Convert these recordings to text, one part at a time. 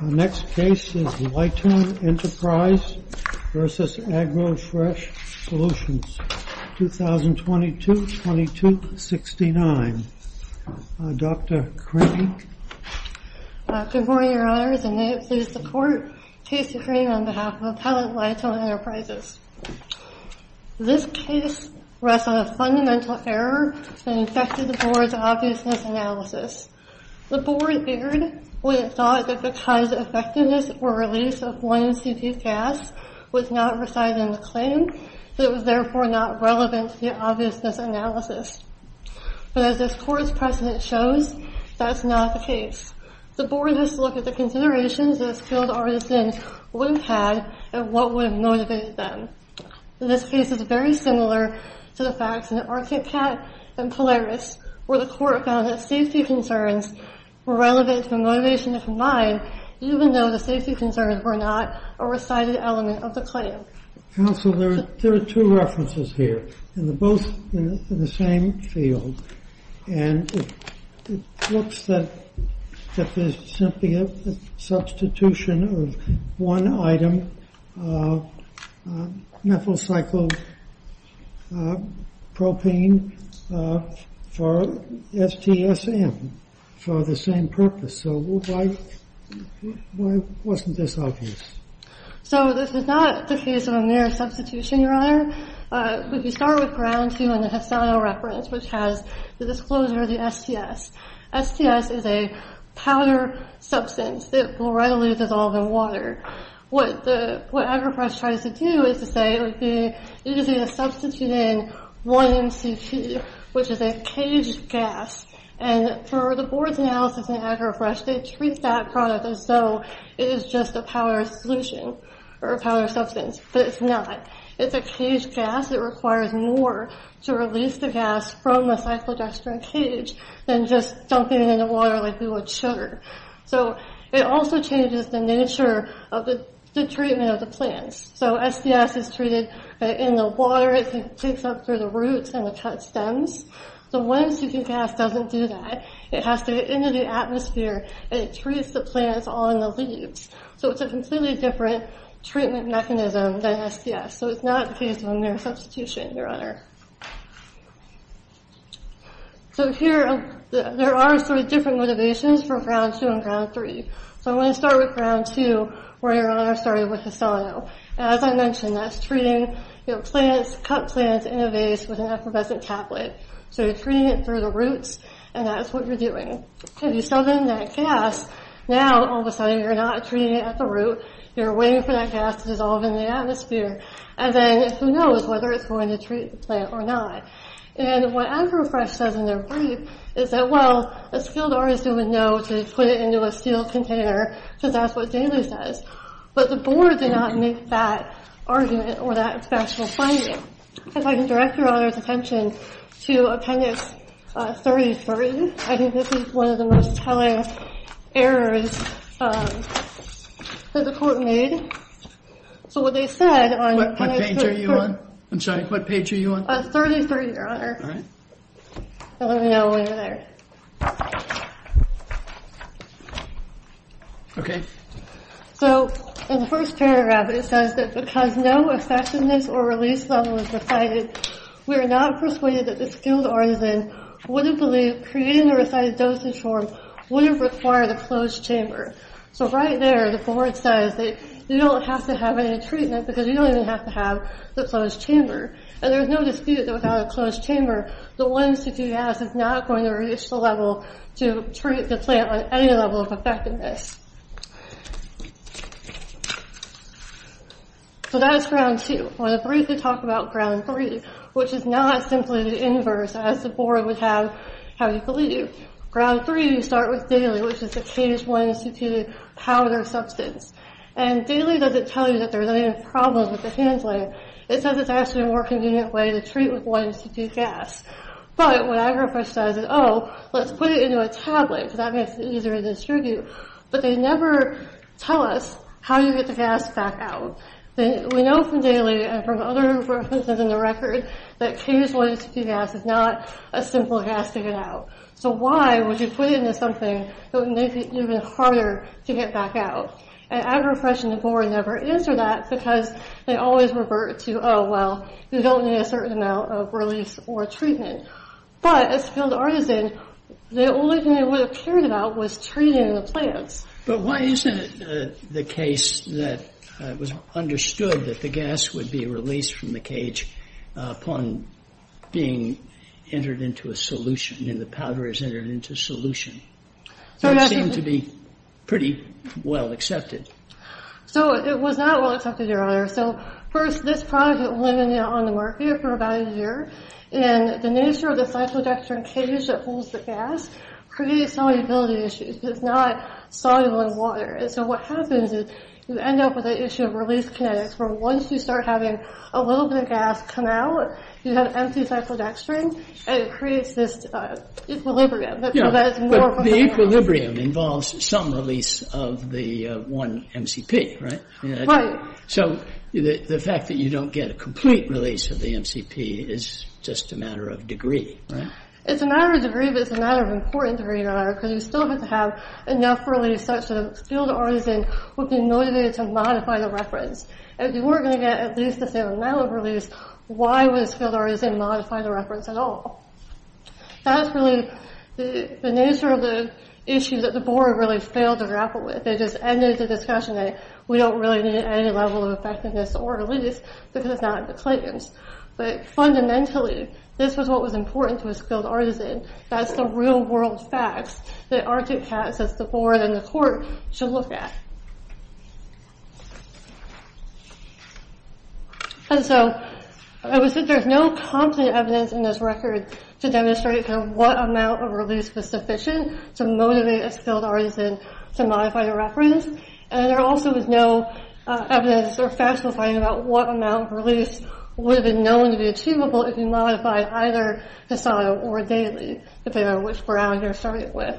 Next case is Lytone Enterprise v. AgroFresh Solutions, 2022-2269. Dr. Crane. Good morning, Your Honors, and may it please the Court, Casey Crane on behalf of Appellate Lytone Enterprises. This case rests on a fundamental error that affected the Board's obviousness analysis. The Board erred when it thought that because the effectiveness or release of one CP gas was not residing in the claim, that it was therefore not relevant to the obviousness analysis. But as this Court's precedent shows, that is not the case. The Board must look at the considerations those skilled artisans would have had and what would have motivated them. This case is very similar to the facts in Orchid Cat and Polaris, where the Court found that safety concerns were relevant to the motivation of the mine, even though the safety concerns were not a resided element of the claim. Counsel, there are two references here, and they're both in the same field. And it looks that there's simply a substitution of one item, methyl cyclopropane, for STSM for the same purpose. So why wasn't this obvious? So this is not the case of a mere substitution, Your Honor. We can start with ground two in the Hasano reference, which has the disclosure of the STS. STS is a powder substance that will readily dissolve in water. What AgriPress tries to do is to say it would be easy to substitute in one MCP, which is a caged gas. And for the Board's analysis in AgriPress, they treat that product as though it is just a powder solution, or a powder substance. But it's not. It's a caged gas. It requires more to release the gas from the cyclodextrin cage than just dumping it in the water like we would sugar. So it also changes the nature of the treatment of the plants. So STS is treated in the water. It takes up through the roots and the cut stems. The wind-seeking gas doesn't do that. It has to get into the atmosphere, and it treats the plants on the leaves. So it's a completely different treatment mechanism than STS. So it's not the case of a mere substitution, Your Honor. There are different motivations for ground two and ground three. I want to start with ground two, where Your Honor started with Hasano. As I mentioned, that's treating cut plants in a vase with an effervescent tablet. So you're treating it through the roots, and that's what you're doing. If you sell them that gas, now all of a sudden you're not treating it at the root. You're waiting for that gas to dissolve in the atmosphere. And then who knows whether it's going to treat the plant or not. And what Agrofresh says in their brief is that, well, a skilled artist would know to put it into a steel container, because that's what Daley says. But the board did not make that argument or that special finding. If I can direct Your Honor's attention to Appendix 33. I think this is one of the most telling errors that the court made. So what they said on Appendix 33. What page are you on? I'm sorry. What page are you on? 33, Your Honor. All right. Let me know when you're there. Okay. So in the first paragraph, it says that because no effectiveness or release level is decided, we are not persuaded that the skilled artisan would have believed creating the recited dosage form would have required a closed chamber. So right there, the board says that you don't have to have any treatment, because you don't even have to have the closed chamber. And there's no dispute that without a closed chamber, the 1-C-2 gas is not going to reach the level to treat the plant on any level of effectiveness. So that is Ground 2. I want to briefly talk about Ground 3, which is not simply the inverse as the board would have had believed. Ground 3, you start with Daley, which is the K-1-C-2 powder substance. And Daley doesn't tell you that there's any problems with the handling. It says it's actually a more convenient way to treat with 1-C-2 gas. But what Agrofresh says is, oh, let's put it into a tablet, because that makes it easier to distribute. But they never tell us how you get the gas back out. We know from Daley and from other references in the record that K-1-C-2 gas is not a simple gas to get out. So why would you put it into something that would make it even harder to get back out? And Agrofresh and the board never answer that, because they always revert to, oh, well, you don't need a certain amount of release or treatment. But as a skilled artisan, the only thing they would have cared about was treating the plants. But why isn't it the case that it was understood that the gas would be released from the cage upon being entered into a solution, and the powder is entered into a solution? So it seemed to be pretty well accepted. So it was not well accepted, Your Honor. So first, this product had been on the market for about a year. And the nature of the cyclodextrin cage that holds the gas creates solubility issues, because it's not soluble in water. And so what happens is you end up with the issue of release kinetics, where once you start having a little bit of gas come out, you have empty cyclodextrin, and it creates this equilibrium. But the equilibrium involves some release of the one MCP, right? Right. So the fact that you don't get a complete release of the MCP is just a matter of degree, right? It's a matter of degree, but it's a matter of important degree, Your Honor, because you still have to have enough release such that a skilled artisan would be motivated to modify the reference. If you were going to get at least the same amount of release, why would a skilled artisan modify the reference at all? That's really the nature of the issue that the board really failed to grapple with. They just ended the discussion that we don't really need any level of effectiveness or release because it's not in the claims. But fundamentally, this was what was important to a skilled artisan. That's the real-world facts that Arctic Cats, as the board and the court, should look at. And so I would say there's no confident evidence in this record to demonstrate what amount of release was sufficient to motivate a skilled artisan to modify the reference. And there also is no evidence or factual finding about what amount of release would have been known to be achievable if you modified either the SOTA or daily, depending on which ground you're starting with.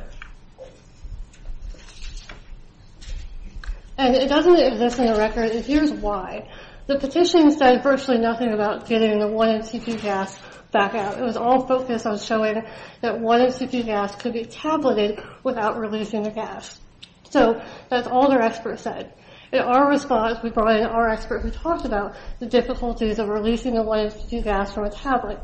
And it doesn't exist in the record, and here's why. The petition said virtually nothing about getting the 1MCP gas back out. It was all focused on showing that 1MCP gas could be tabulated without releasing the gas. So that's all their expert said. In our response, we brought in our expert who talked about the difficulties of releasing the 1MCP gas from a tablet.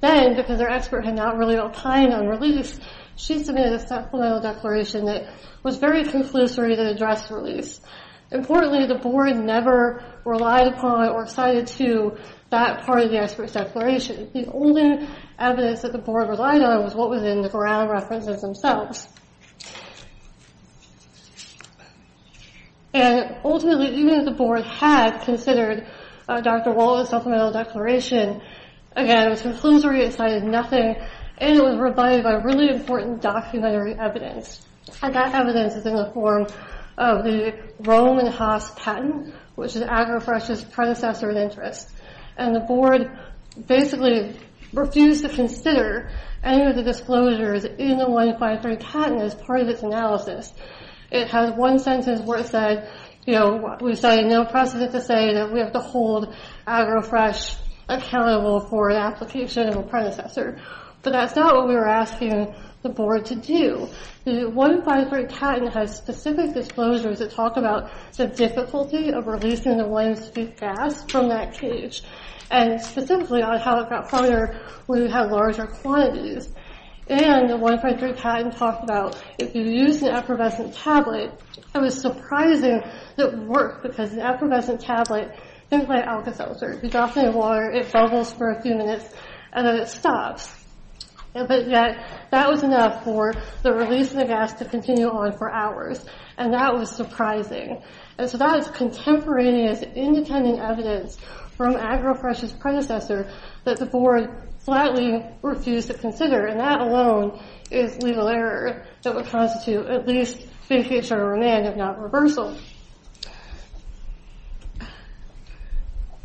Then, because their expert had not really got a plan on release, she submitted a supplemental declaration that was very conclusory to address release. Importantly, the board never relied upon or cited to that part of the expert's declaration. The only evidence that the board relied on was what was in the ground references themselves. And ultimately, even if the board had considered Dr. Wallace's supplemental declaration, again, it was conclusory, it cited nothing, and it was provided by really important documentary evidence. And that evidence is in the form of the Roman Haas patent, which is Agrofresh's predecessor in interest. And the board basically refused to consider any of the disclosures in the 153 patent as part of its analysis. It has one sentence where it said, you know, we cited no precedent to say that we have to hold Agrofresh accountable for an application of a predecessor. But that's not what we were asking the board to do. The 153 patent has specific disclosures that talk about the difficulty of releasing the one-inch-feet gas from that cage, and specifically on how it got harder when you have larger quantities. And the 153 patent talked about if you use an effervescent tablet, it was surprising that it would work because an effervescent tablet, think like Alka-Seltzer. You drop it in water, it bubbles for a few minutes, and then it stops. But yet, that was enough for the release of the gas to continue on for hours. And that was surprising. And so that is contemporaneous, independent evidence from Agrofresh's predecessor that the board flatly refused to consider. And that alone is legal error that would constitute at least being caged under remand, if not reversal.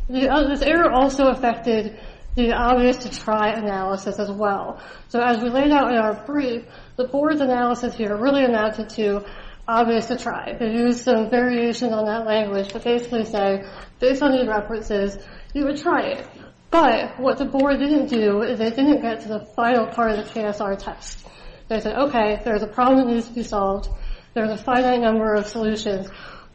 So... This error also affected the obvious-to-try analysis as well. So as we laid out in our brief, the board's analysis here really amounted to obvious-to-try. They used some variations on that language to basically say, based on these references, you would try it. But what the board didn't do is they didn't get to the final part of the KSR test. They said, okay, there's a problem that needs to be solved, there's a finite number of solutions,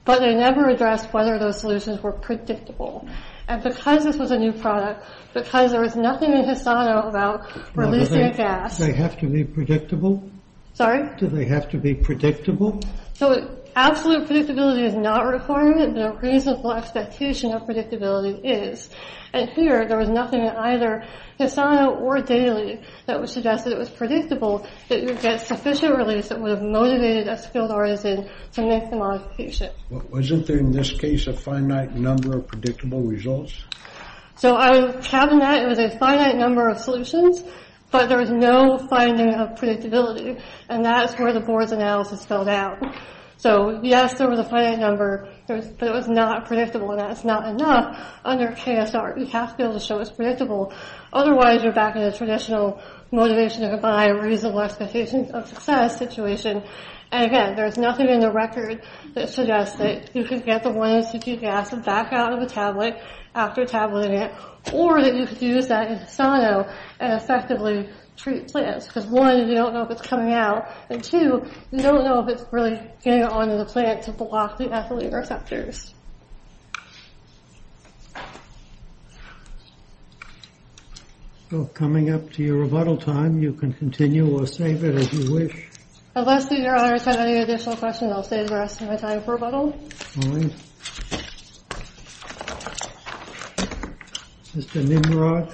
but they never addressed whether those solutions were predictable. And because this was a new product, because there was nothing in Hisano about releasing a gas... They have to be predictable? Sorry? Do they have to be predictable? So absolute predictability is not required, but a reasonable expectation of predictability is. And here, there was nothing in either Hisano or Daly that would suggest that it was predictable that you would get sufficient release that would have motivated a skilled artisan to make the modification. Wasn't there, in this case, a finite number of predictable results? So out of the cabinet, it was a finite number of solutions, but there was no finding of predictability, and that's where the board's analysis fell down. So, yes, there was a finite number, but it was not predictable, and that's not enough. Under KSR, you have to be able to show it's predictable. Otherwise, you're back in the traditional motivation-to-buy-reasonable-expectations-of-success situation. And again, there's nothing in the record that suggests that you can get the one-institute gas back out of the tablet after tabulating it, or that you could use that in Hisano and effectively treat plants, because one, you don't know if it's coming out, and two, you don't know if it's really getting onto the plant to block the ethylene receptors. So, coming up to your rebuttal time, you can continue or save it as you wish. Unless, Your Honor, I have any additional questions, I'll save the rest of my time for rebuttal. All right. Mr. Nimrod.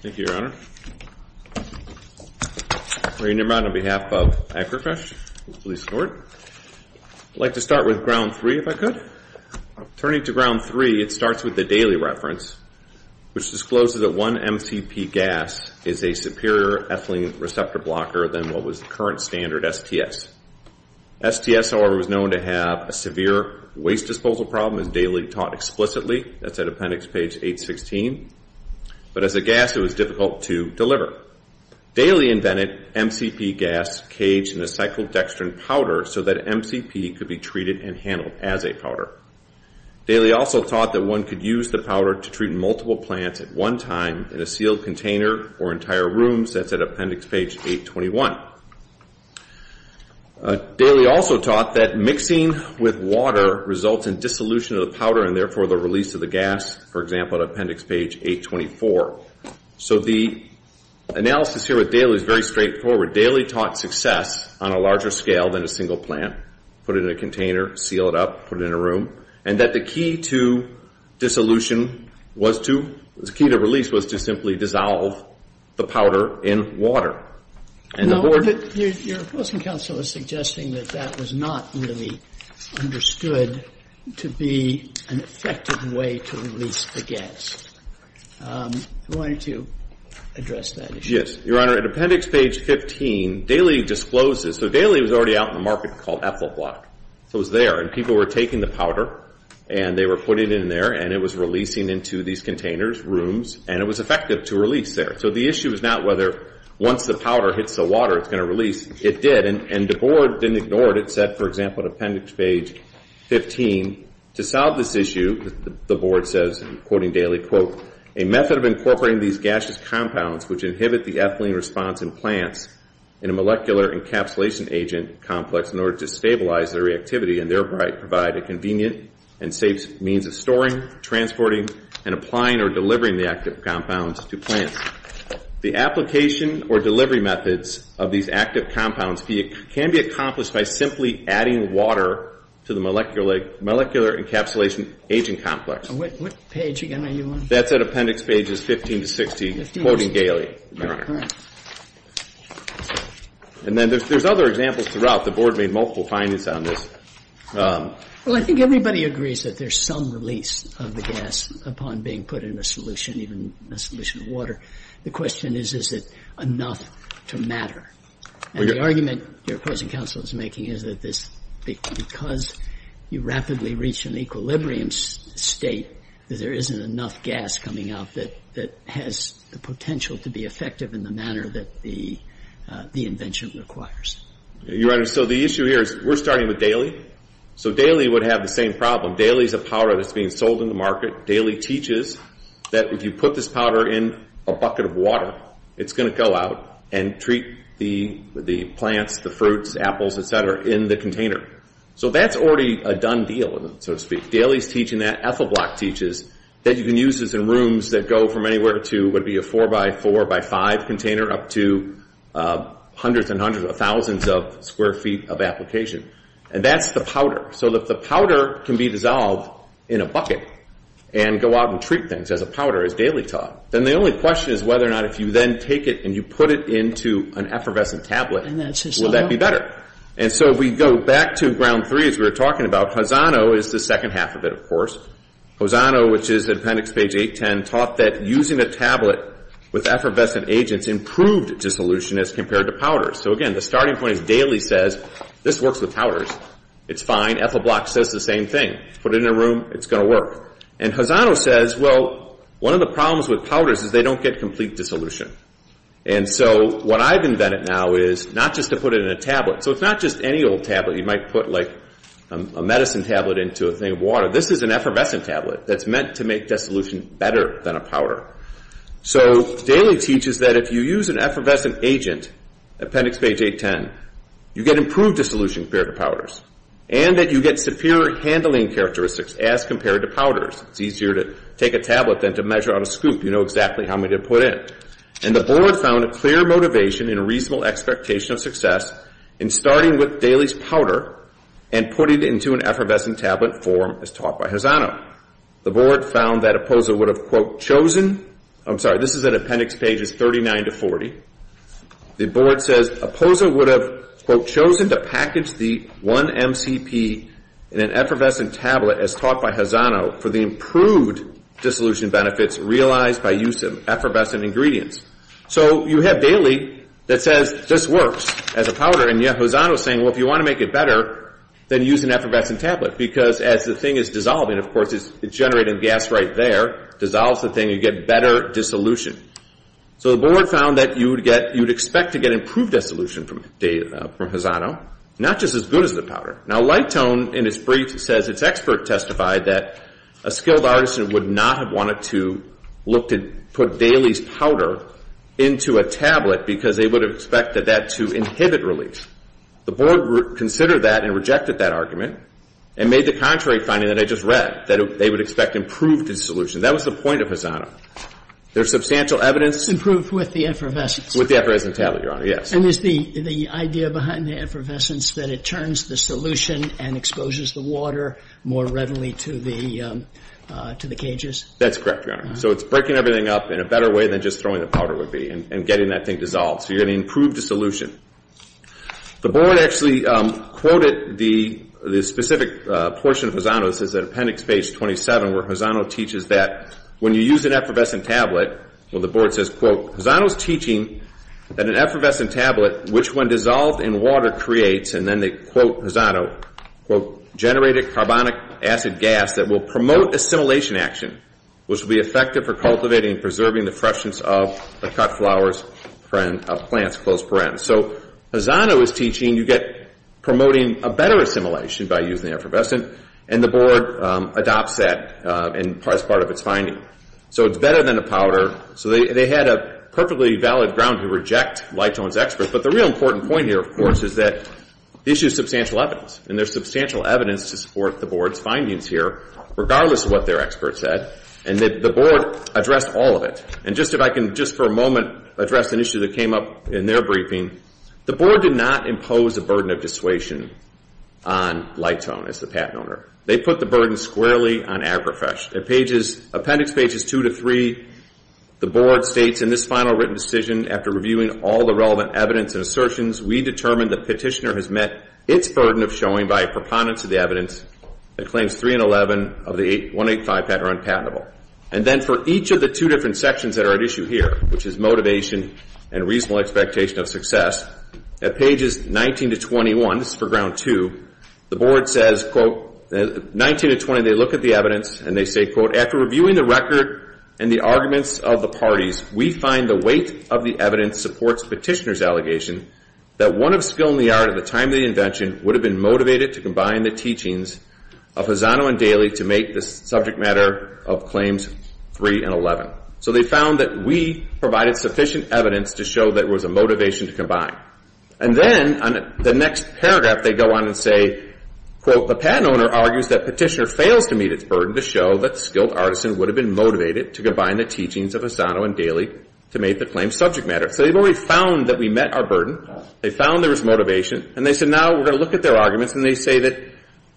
Thank you, Your Honor. Thank you, Your Honor. Ray Nimrod on behalf of AgriFresh. I'd like to start with ground three, if I could. Turning to ground three, it starts with the Daly reference, which discloses that one MCP gas is a superior ethylene receptor blocker than what was the current standard, STS. STS, however, was known to have a severe waste disposal problem, as Daly taught explicitly. That's at appendix page 816. But as a gas, it was difficult to deliver. Daly invented MCP gas caged in a cyclodextrin powder so that MCP could be treated and handled as a powder. Daly also taught that one could use the powder to treat multiple plants at one time in a sealed container or entire room. That's at appendix page 821. Daly also taught that mixing with water results in dissolution of the powder and therefore the release of the gas, for example, at appendix page 824. So the analysis here with Daly is very straightforward. Daly taught success on a larger scale than a single plant, put it in a container, seal it up, put it in a room, and that the key to dissolution was to... the key to release was to simply dissolve the powder in water. And the board... Your opposing counsel is suggesting that that was not really understood to be an effective way to release the gas. Why don't you address that issue? Yes. Your Honor, at appendix page 15, Daly discloses... So Daly was already out in the market called Ethelblock. It was there, and people were taking the powder and they were putting it in there and it was releasing into these containers, rooms, and it was effective to release there. So the issue is not whether once the powder hits the water it's going to release. It did, and the board didn't ignore it. It said, for example, at appendix page 15, to solve this issue, the board says, quoting Daly, quote, a method of incorporating these gaseous compounds which inhibit the ethylene response in plants in a molecular encapsulation agent complex in order to stabilize their reactivity and thereby provide a convenient and safe means of storing, transporting, and applying or delivering the active compounds to plants. The application or delivery methods of these active compounds can be accomplished by simply adding water to the molecular encapsulation agent complex. What page again are you on? That's at appendix pages 15 to 16, quoting Daly, Your Honor. All right. And then there's other examples throughout. The board made multiple findings on this. Well, I think everybody agrees that there's some release of the gas upon being put in a solution, even a solution of water. The question is, is it enough to matter? And the argument your opposing counsel is making is that this, because you rapidly reach an equilibrium state, that there isn't enough gas coming out that has the potential to be effective in the manner that the invention requires. Your Honor, so the issue here is we're starting with Daly. So Daly would have the same problem. Daly is a powder that's being sold in the market. Daly teaches that if you put this powder in a bucket of water, it's going to go out and treat the plants, the fruits, apples, etc., in the container. So that's already a done deal, so to speak. Daly's teaching that. Ethelblock teaches that you can use this in rooms that go from anywhere to what would be a 4x4x5 container up to hundreds and hundreds of thousands of square feet of application. And that's the powder. So if the powder can be dissolved in a bucket and go out and treat things as a powder, as Daly taught, then the only question is whether or not if you then take it and you put it into an effervescent tablet, will that be better? And so we go back to Ground 3 as we were talking about. Hazano is the second half of it, of course. Hazano, which is Appendix Page 810, taught that using a tablet with effervescent agents improved dissolution as compared to powders. So again, the starting point is Daly says this works with powders. It's fine. Ethelblock says the same thing. Put it in a room. It's going to work. And Hazano says, well, one of the problems with powders is they don't get complete dissolution. And so what I've invented now is not just to put it in a tablet. So it's not just any old tablet. You might put, like, a medicine tablet into a thing of water. This is an effervescent tablet that's meant to make dissolution better than a powder. So Daly teaches that if you use an effervescent agent, Appendix Page 810, you get improved dissolution compared to powders and that you get superior handling characteristics as compared to powders. It's easier to take a tablet than to measure out a scoop. You know exactly how many to put in. And the board found a clear motivation and a reasonable expectation of success in starting with Daly's powder and putting it into an effervescent tablet form as taught by Hazano. The board found that Opposa would have, quote, chosen. I'm sorry, this is in Appendix Pages 39 to 40. The board says Opposa would have, quote, in an effervescent tablet as taught by Hazano for the improved dissolution benefits realized by use of effervescent ingredients. So you have Daly that says this works as a powder, and yet Hazano is saying, well, if you want to make it better, then use an effervescent tablet because as the thing is dissolving, of course, it's generating gas right there, dissolves the thing, you get better dissolution. So the board found that you would expect to get improved dissolution from Hazano, not just as good as the powder. Now, Lightone in its brief says its expert testified that a skilled artisan would not have wanted to look to put Daly's powder into a tablet because they would have expected that to inhibit release. The board considered that and rejected that argument and made the contrary finding that I just read, that they would expect improved dissolution. That was the point of Hazano. There's substantial evidence. Improved with the effervescence. With the effervescent tablet, Your Honor, yes. And is the idea behind the effervescence that it turns the solution and exposes the water more readily to the cages? That's correct, Your Honor. So it's breaking everything up in a better way than just throwing the powder would be and getting that thing dissolved. So you're going to improve dissolution. The board actually quoted the specific portion of Hazano. This is at appendix page 27 where Hazano teaches that when you use an effervescent tablet, well, the board says, Quote, Hazano is teaching that an effervescent tablet, which when dissolved in water creates, and then they quote Hazano, Quote, generated carbonic acid gas that will promote assimilation action, which will be effective for cultivating and preserving the freshness of the cut flowers of plants. So Hazano is teaching you get promoting a better assimilation by using the effervescent, and the board adopts that as part of its finding. So it's better than a powder. So they had a perfectly valid ground to reject Litone's expert, but the real important point here, of course, is that the issue is substantial evidence, and there's substantial evidence to support the board's findings here, regardless of what their expert said, and that the board addressed all of it. And just if I can, just for a moment, address an issue that came up in their briefing. The board did not impose a burden of dissuasion on Litone as the patent owner. They put the burden squarely on AgriFresh. At appendix pages 2 to 3, the board states, In this final written decision, after reviewing all the relevant evidence and assertions, we determined the petitioner has met its burden of showing by a preponderance of the evidence that claims 3 and 11 of the 185 patent are unpatentable. And then for each of the two different sections that are at issue here, which is motivation and reasonable expectation of success, at pages 19 to 21, this is for ground 2, the board says, quote, 19 to 20, they look at the evidence and they say, quote, After reviewing the record and the arguments of the parties, we find the weight of the evidence supports petitioner's allegation that one of skill in the art at the time of the invention would have been motivated to combine the teachings of Hazano and Daly to make the subject matter of claims 3 and 11. So they found that we provided sufficient evidence to show that it was a motivation to combine. And then on the next paragraph, they go on and say, quote, The patent owner argues that petitioner fails to meet its burden to show that skilled artisan would have been motivated to combine the teachings of Hazano and Daly to make the claims subject matter. So they've already found that we met our burden. They found there was motivation. And they said now we're going to look at their arguments and they say that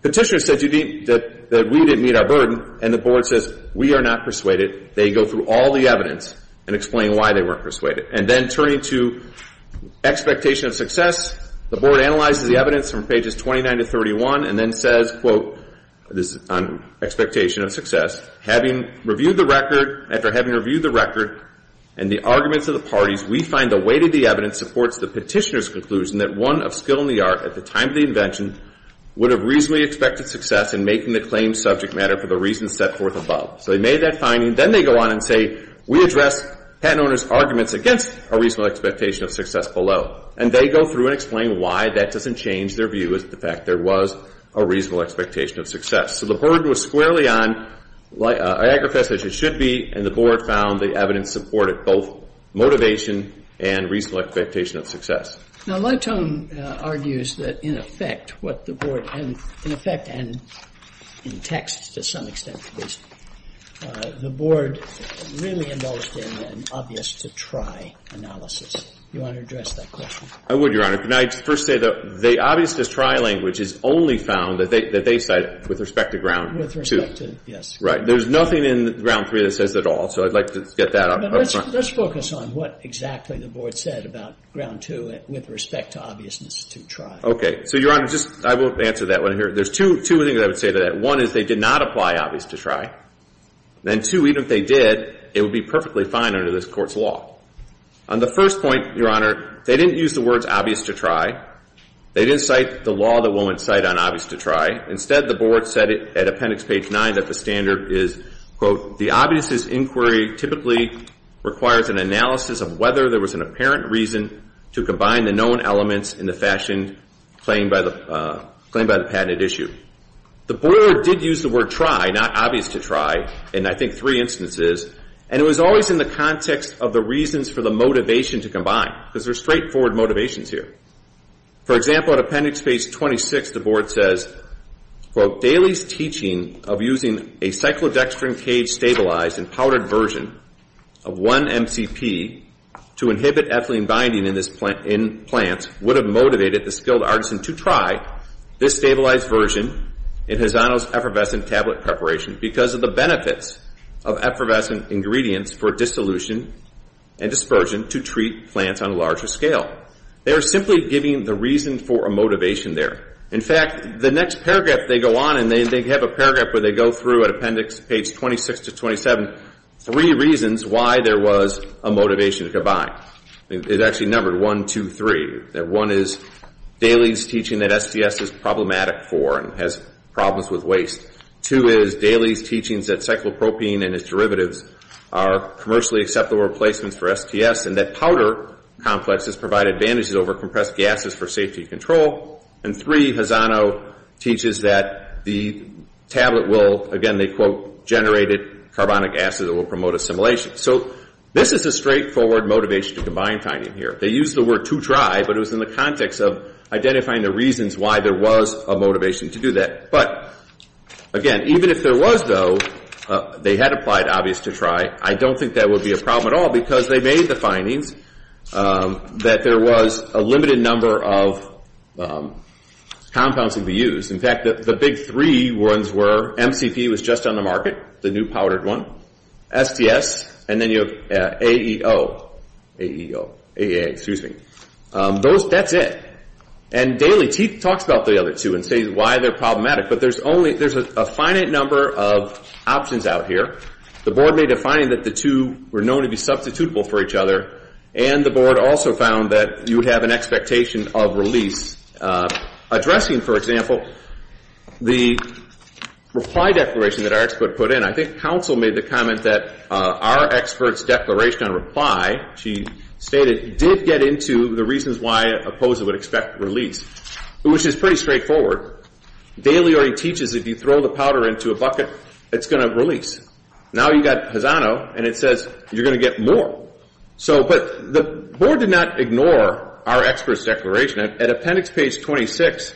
petitioner said that we didn't meet our burden and the board says we are not persuaded. They go through all the evidence and explain why they weren't persuaded. And then turning to expectation of success, the board analyzes the evidence from pages 29 to 31 and then says, quote, this is on expectation of success, Having reviewed the record, after having reviewed the record and the arguments of the parties, we find the weight of the evidence supports the petitioner's conclusion that one of skill in the art at the time of the invention would have reasonably expected success in making the claims subject matter for the reasons set forth above. So they made that finding. Then they go on and say, We address patent owner's arguments against a reasonable expectation of success below. And they go through and explain why that doesn't change their view is the fact there was a reasonable expectation of success. So the burden was squarely on, I aggriface as it should be, and the board found the evidence supported both motivation and reasonable expectation of success. Now, Latone argues that in effect what the board, in effect and in text to some extent, the board really involved in an obvious to try analysis. Do you want to address that question? I would, Your Honor. Can I just first say that the obvious to try language is only found that they cite with respect to ground two. With respect to, yes. Right. There's nothing in ground three that says that at all. So I'd like to get that up front. Let's focus on what exactly the board said about ground two with respect to obviousness to try. Okay. So, Your Honor, just I will answer that one here. There's two things I would say to that. One is they did not apply obvious to try. Then two, even if they did, it would be perfectly fine under this Court's law. On the first point, Your Honor, they didn't use the words obvious to try. They didn't cite the law that won't cite on obvious to try. Instead, the board said at appendix page nine that the standard is, quote, the obviousness inquiry typically requires an analysis of whether there was an apparent reason to combine the known elements in the fashion claimed by the patented issue. The board did use the word try, not obvious to try, in I think three instances, and it was always in the context of the reasons for the motivation to combine because there's straightforward motivations here. For example, at appendix page 26, the board says, quote, Daley's teaching of using a cyclodextrin cage stabilized and powdered version of one MCP to inhibit ethylene binding in plants would have motivated the skilled artisan to try this stabilized version in Hazano's effervescent tablet preparation because of the benefits of effervescent ingredients for dissolution and dispersion to treat plants on a larger scale. They are simply giving the reason for a motivation there. In fact, the next paragraph they go on, and they have a paragraph where they go through at appendix page 26 to 27 three reasons why there was a motivation to combine. It's actually numbered one, two, three. One is Daley's teaching that SDS is problematic for and has problems with waste. Two is Daley's teachings that cyclopropene and its derivatives are commercially acceptable replacements for SDS and that powder complexes provide advantages over compressed gases for safety control. And three, Hazano teaches that the tablet will, again, they quote, generate carbonic acid that will promote assimilation. So this is a straightforward motivation to combine finding here. They use the word to try, but it was in the context of identifying the reasons why there was a motivation to do that. But, again, even if there was, though, they had applied obvious to try, I don't think that would be a problem at all because they made the findings that there was a limited number of compounds that could be used. In fact, the big three ones were MCP was just on the market, the new powdered one, SDS, and then you have AEO. That's it. And Daley talks about the other two and says why they're problematic, but there's a finite number of options out here. The board made a finding that the two were known to be substitutable for each other, and the board also found that you would have an expectation of release. Addressing, for example, the reply declaration that our expert put in, I think counsel made the comment that our expert's declaration on reply, she stated, did get into the reasons why a poser would expect release, which is pretty straightforward. Daley already teaches that if you throw the powder into a bucket, it's going to release. Now you've got Hazano, and it says you're going to get more. But the board did not ignore our expert's declaration. At appendix page 26,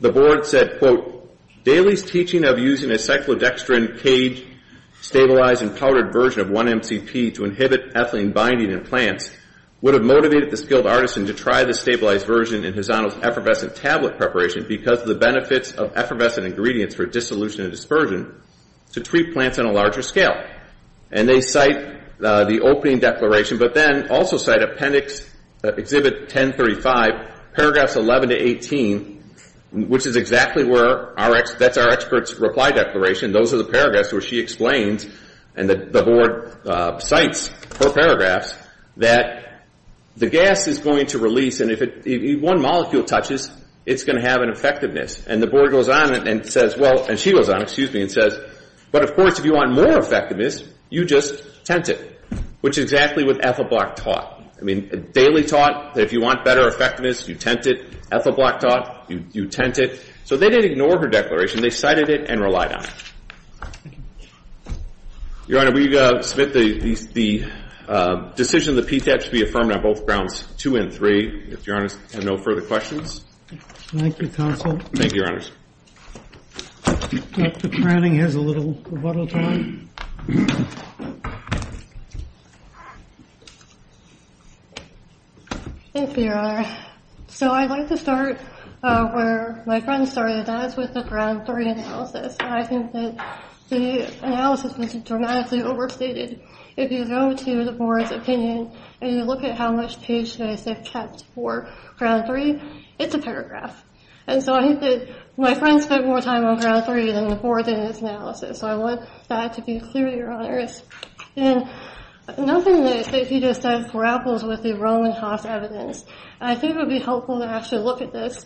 the board said, quote, Daley's teaching of using a cyclodextrin cage stabilized and powdered version of 1-MCP to inhibit ethylene binding in plants would have motivated the skilled artisan to try the stabilized version in Hazano's effervescent tablet preparation because of the benefits of effervescent ingredients for dissolution and dispersion to treat plants on a larger scale. And they cite the opening declaration, but then also cite appendix exhibit 1035, paragraphs 11 to 18, which is exactly where our expert's reply declaration, those are the paragraphs where she explains, and the board cites her paragraphs, that the gas is going to release, and if one molecule touches, it's going to have an effectiveness. And the board goes on and says, well, and she goes on, excuse me, and says, but of course if you want more effectiveness, you just tent it, which is exactly what Ethelblock taught. I mean, Daley taught that if you want better effectiveness, you tent it. Ethelblock taught you tent it. So they didn't ignore her declaration. They cited it and relied on it. Your Honor, we submit the decision that PTAP should be affirmed on both grounds two and three. If Your Honor has no further questions. Thank you, counsel. Thank you, Your Honor. Dr. Cranning has a little time. Thank you, Your Honor. So I'd like to start where my friend started. That is with the ground three analysis. I think that the analysis was dramatically overstated. If you go to the board's opinion, and you look at how much page space they've kept for ground three, it's a paragraph. And so I think that my friend spent more time on ground three than the board did on this analysis. So I want that to be clear, Your Honors. And nothing that I think you just said grapples with the Roman Hoff evidence. And I think it would be helpful to actually look at this.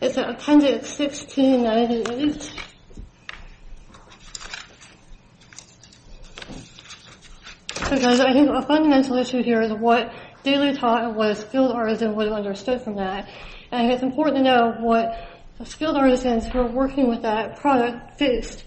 It's at Appendix 1698. So, guys, I think a fundamental issue here is what Daley taught and what a skilled artisan would have understood from that. And I think it's important to know what skilled artisans who are working with that product faced.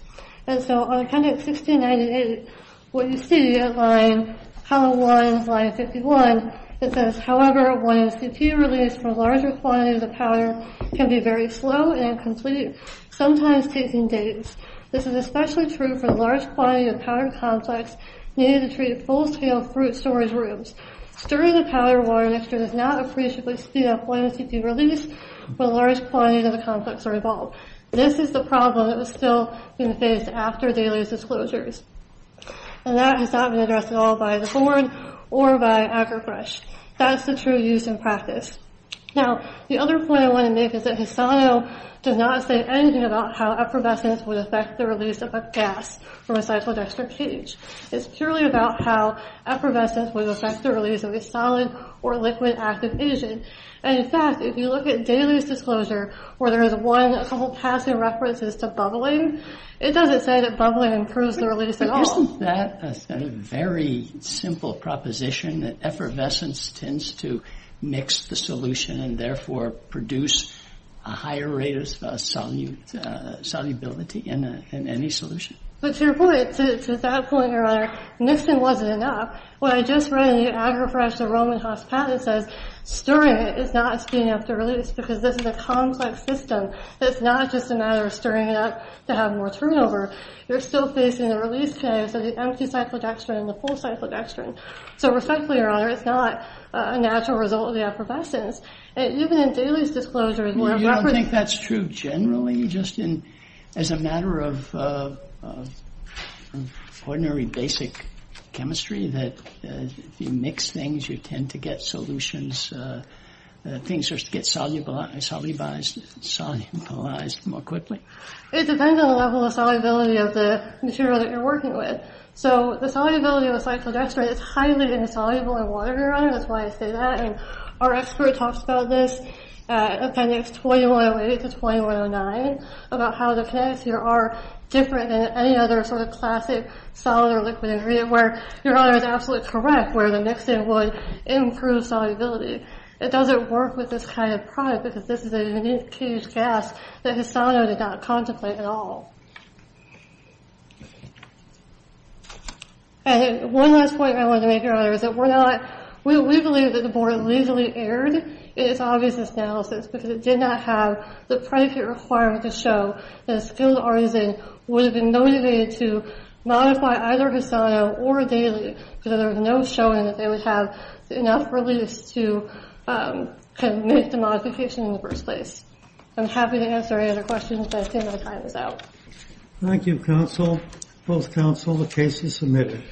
And so on Appendix 1698, what you see at line 51, it says, However, 1MCP release for a larger quantity of the powder can be very slow and incomplete, sometimes taking days. This is especially true for the large quantity of powdered complex needed to treat full-scale fruit storage rooms. Stirring the powder water mixture does not appreciably speed up 1MCP release for a large quantity of the complex or evolve. This is the problem that was still being faced after Daley's disclosures. And that has not been addressed at all by the board or by AgriBrush. That's the true use in practice. Now, the other point I want to make is that Hisano does not say anything about how effervescence would affect the release of a gas from a cyclodextric cage. It's purely about how effervescence would affect the release of a solid or liquid active agent. And, in fact, if you look at Daley's disclosure, where there is one, a couple passing references to bubbling, it doesn't say that bubbling improves the release at all. Isn't that a very simple proposition, that effervescence tends to mix the solution and, therefore, produce a higher rate of solubility in any solution? But to your point, to that point, Your Honor, mixing wasn't enough. What I just read in the AgriBrush, the Roman Haas patent, says stirring it is not speeding up the release because this is a complex system. It's not just a matter of stirring it up to have more turnover. You're still facing the release cage of the empty cyclodextrin and the full cyclodextrin. So, respectfully, Your Honor, it's not a natural result of the effervescence. And even in Daley's disclosure, where a reference… Well, you don't think that's true generally? Just as a matter of ordinary basic chemistry, that if you mix things, you tend to get solutions, things just get solubilized more quickly? It depends on the level of solubility of the material that you're working with. So, the solubility of the cyclodextrin is highly insoluble in water, Your Honor. That's why I say that. And our expert talks about this at appendix 2108 to 2109, about how the kinetics here are different than any other sort of classic solid or liquid ingredient, where Your Honor is absolutely correct, where the mixing would improve solubility. It doesn't work with this kind of product, because this is a unique caged gas that Hisano did not contemplate at all. And one last point I wanted to make, Your Honor, is that we're not… We believe that the board legally erred in its obvious analysis because it did not have the predicate requirement to show that a skilled artisan would have been motivated to modify either Hisano or Daley because there was no showing that they would have enough release to make the modification in the first place. I'm happy to answer any other questions, but I think my time is out. Thank you, counsel. Both counsel, the case is submitted.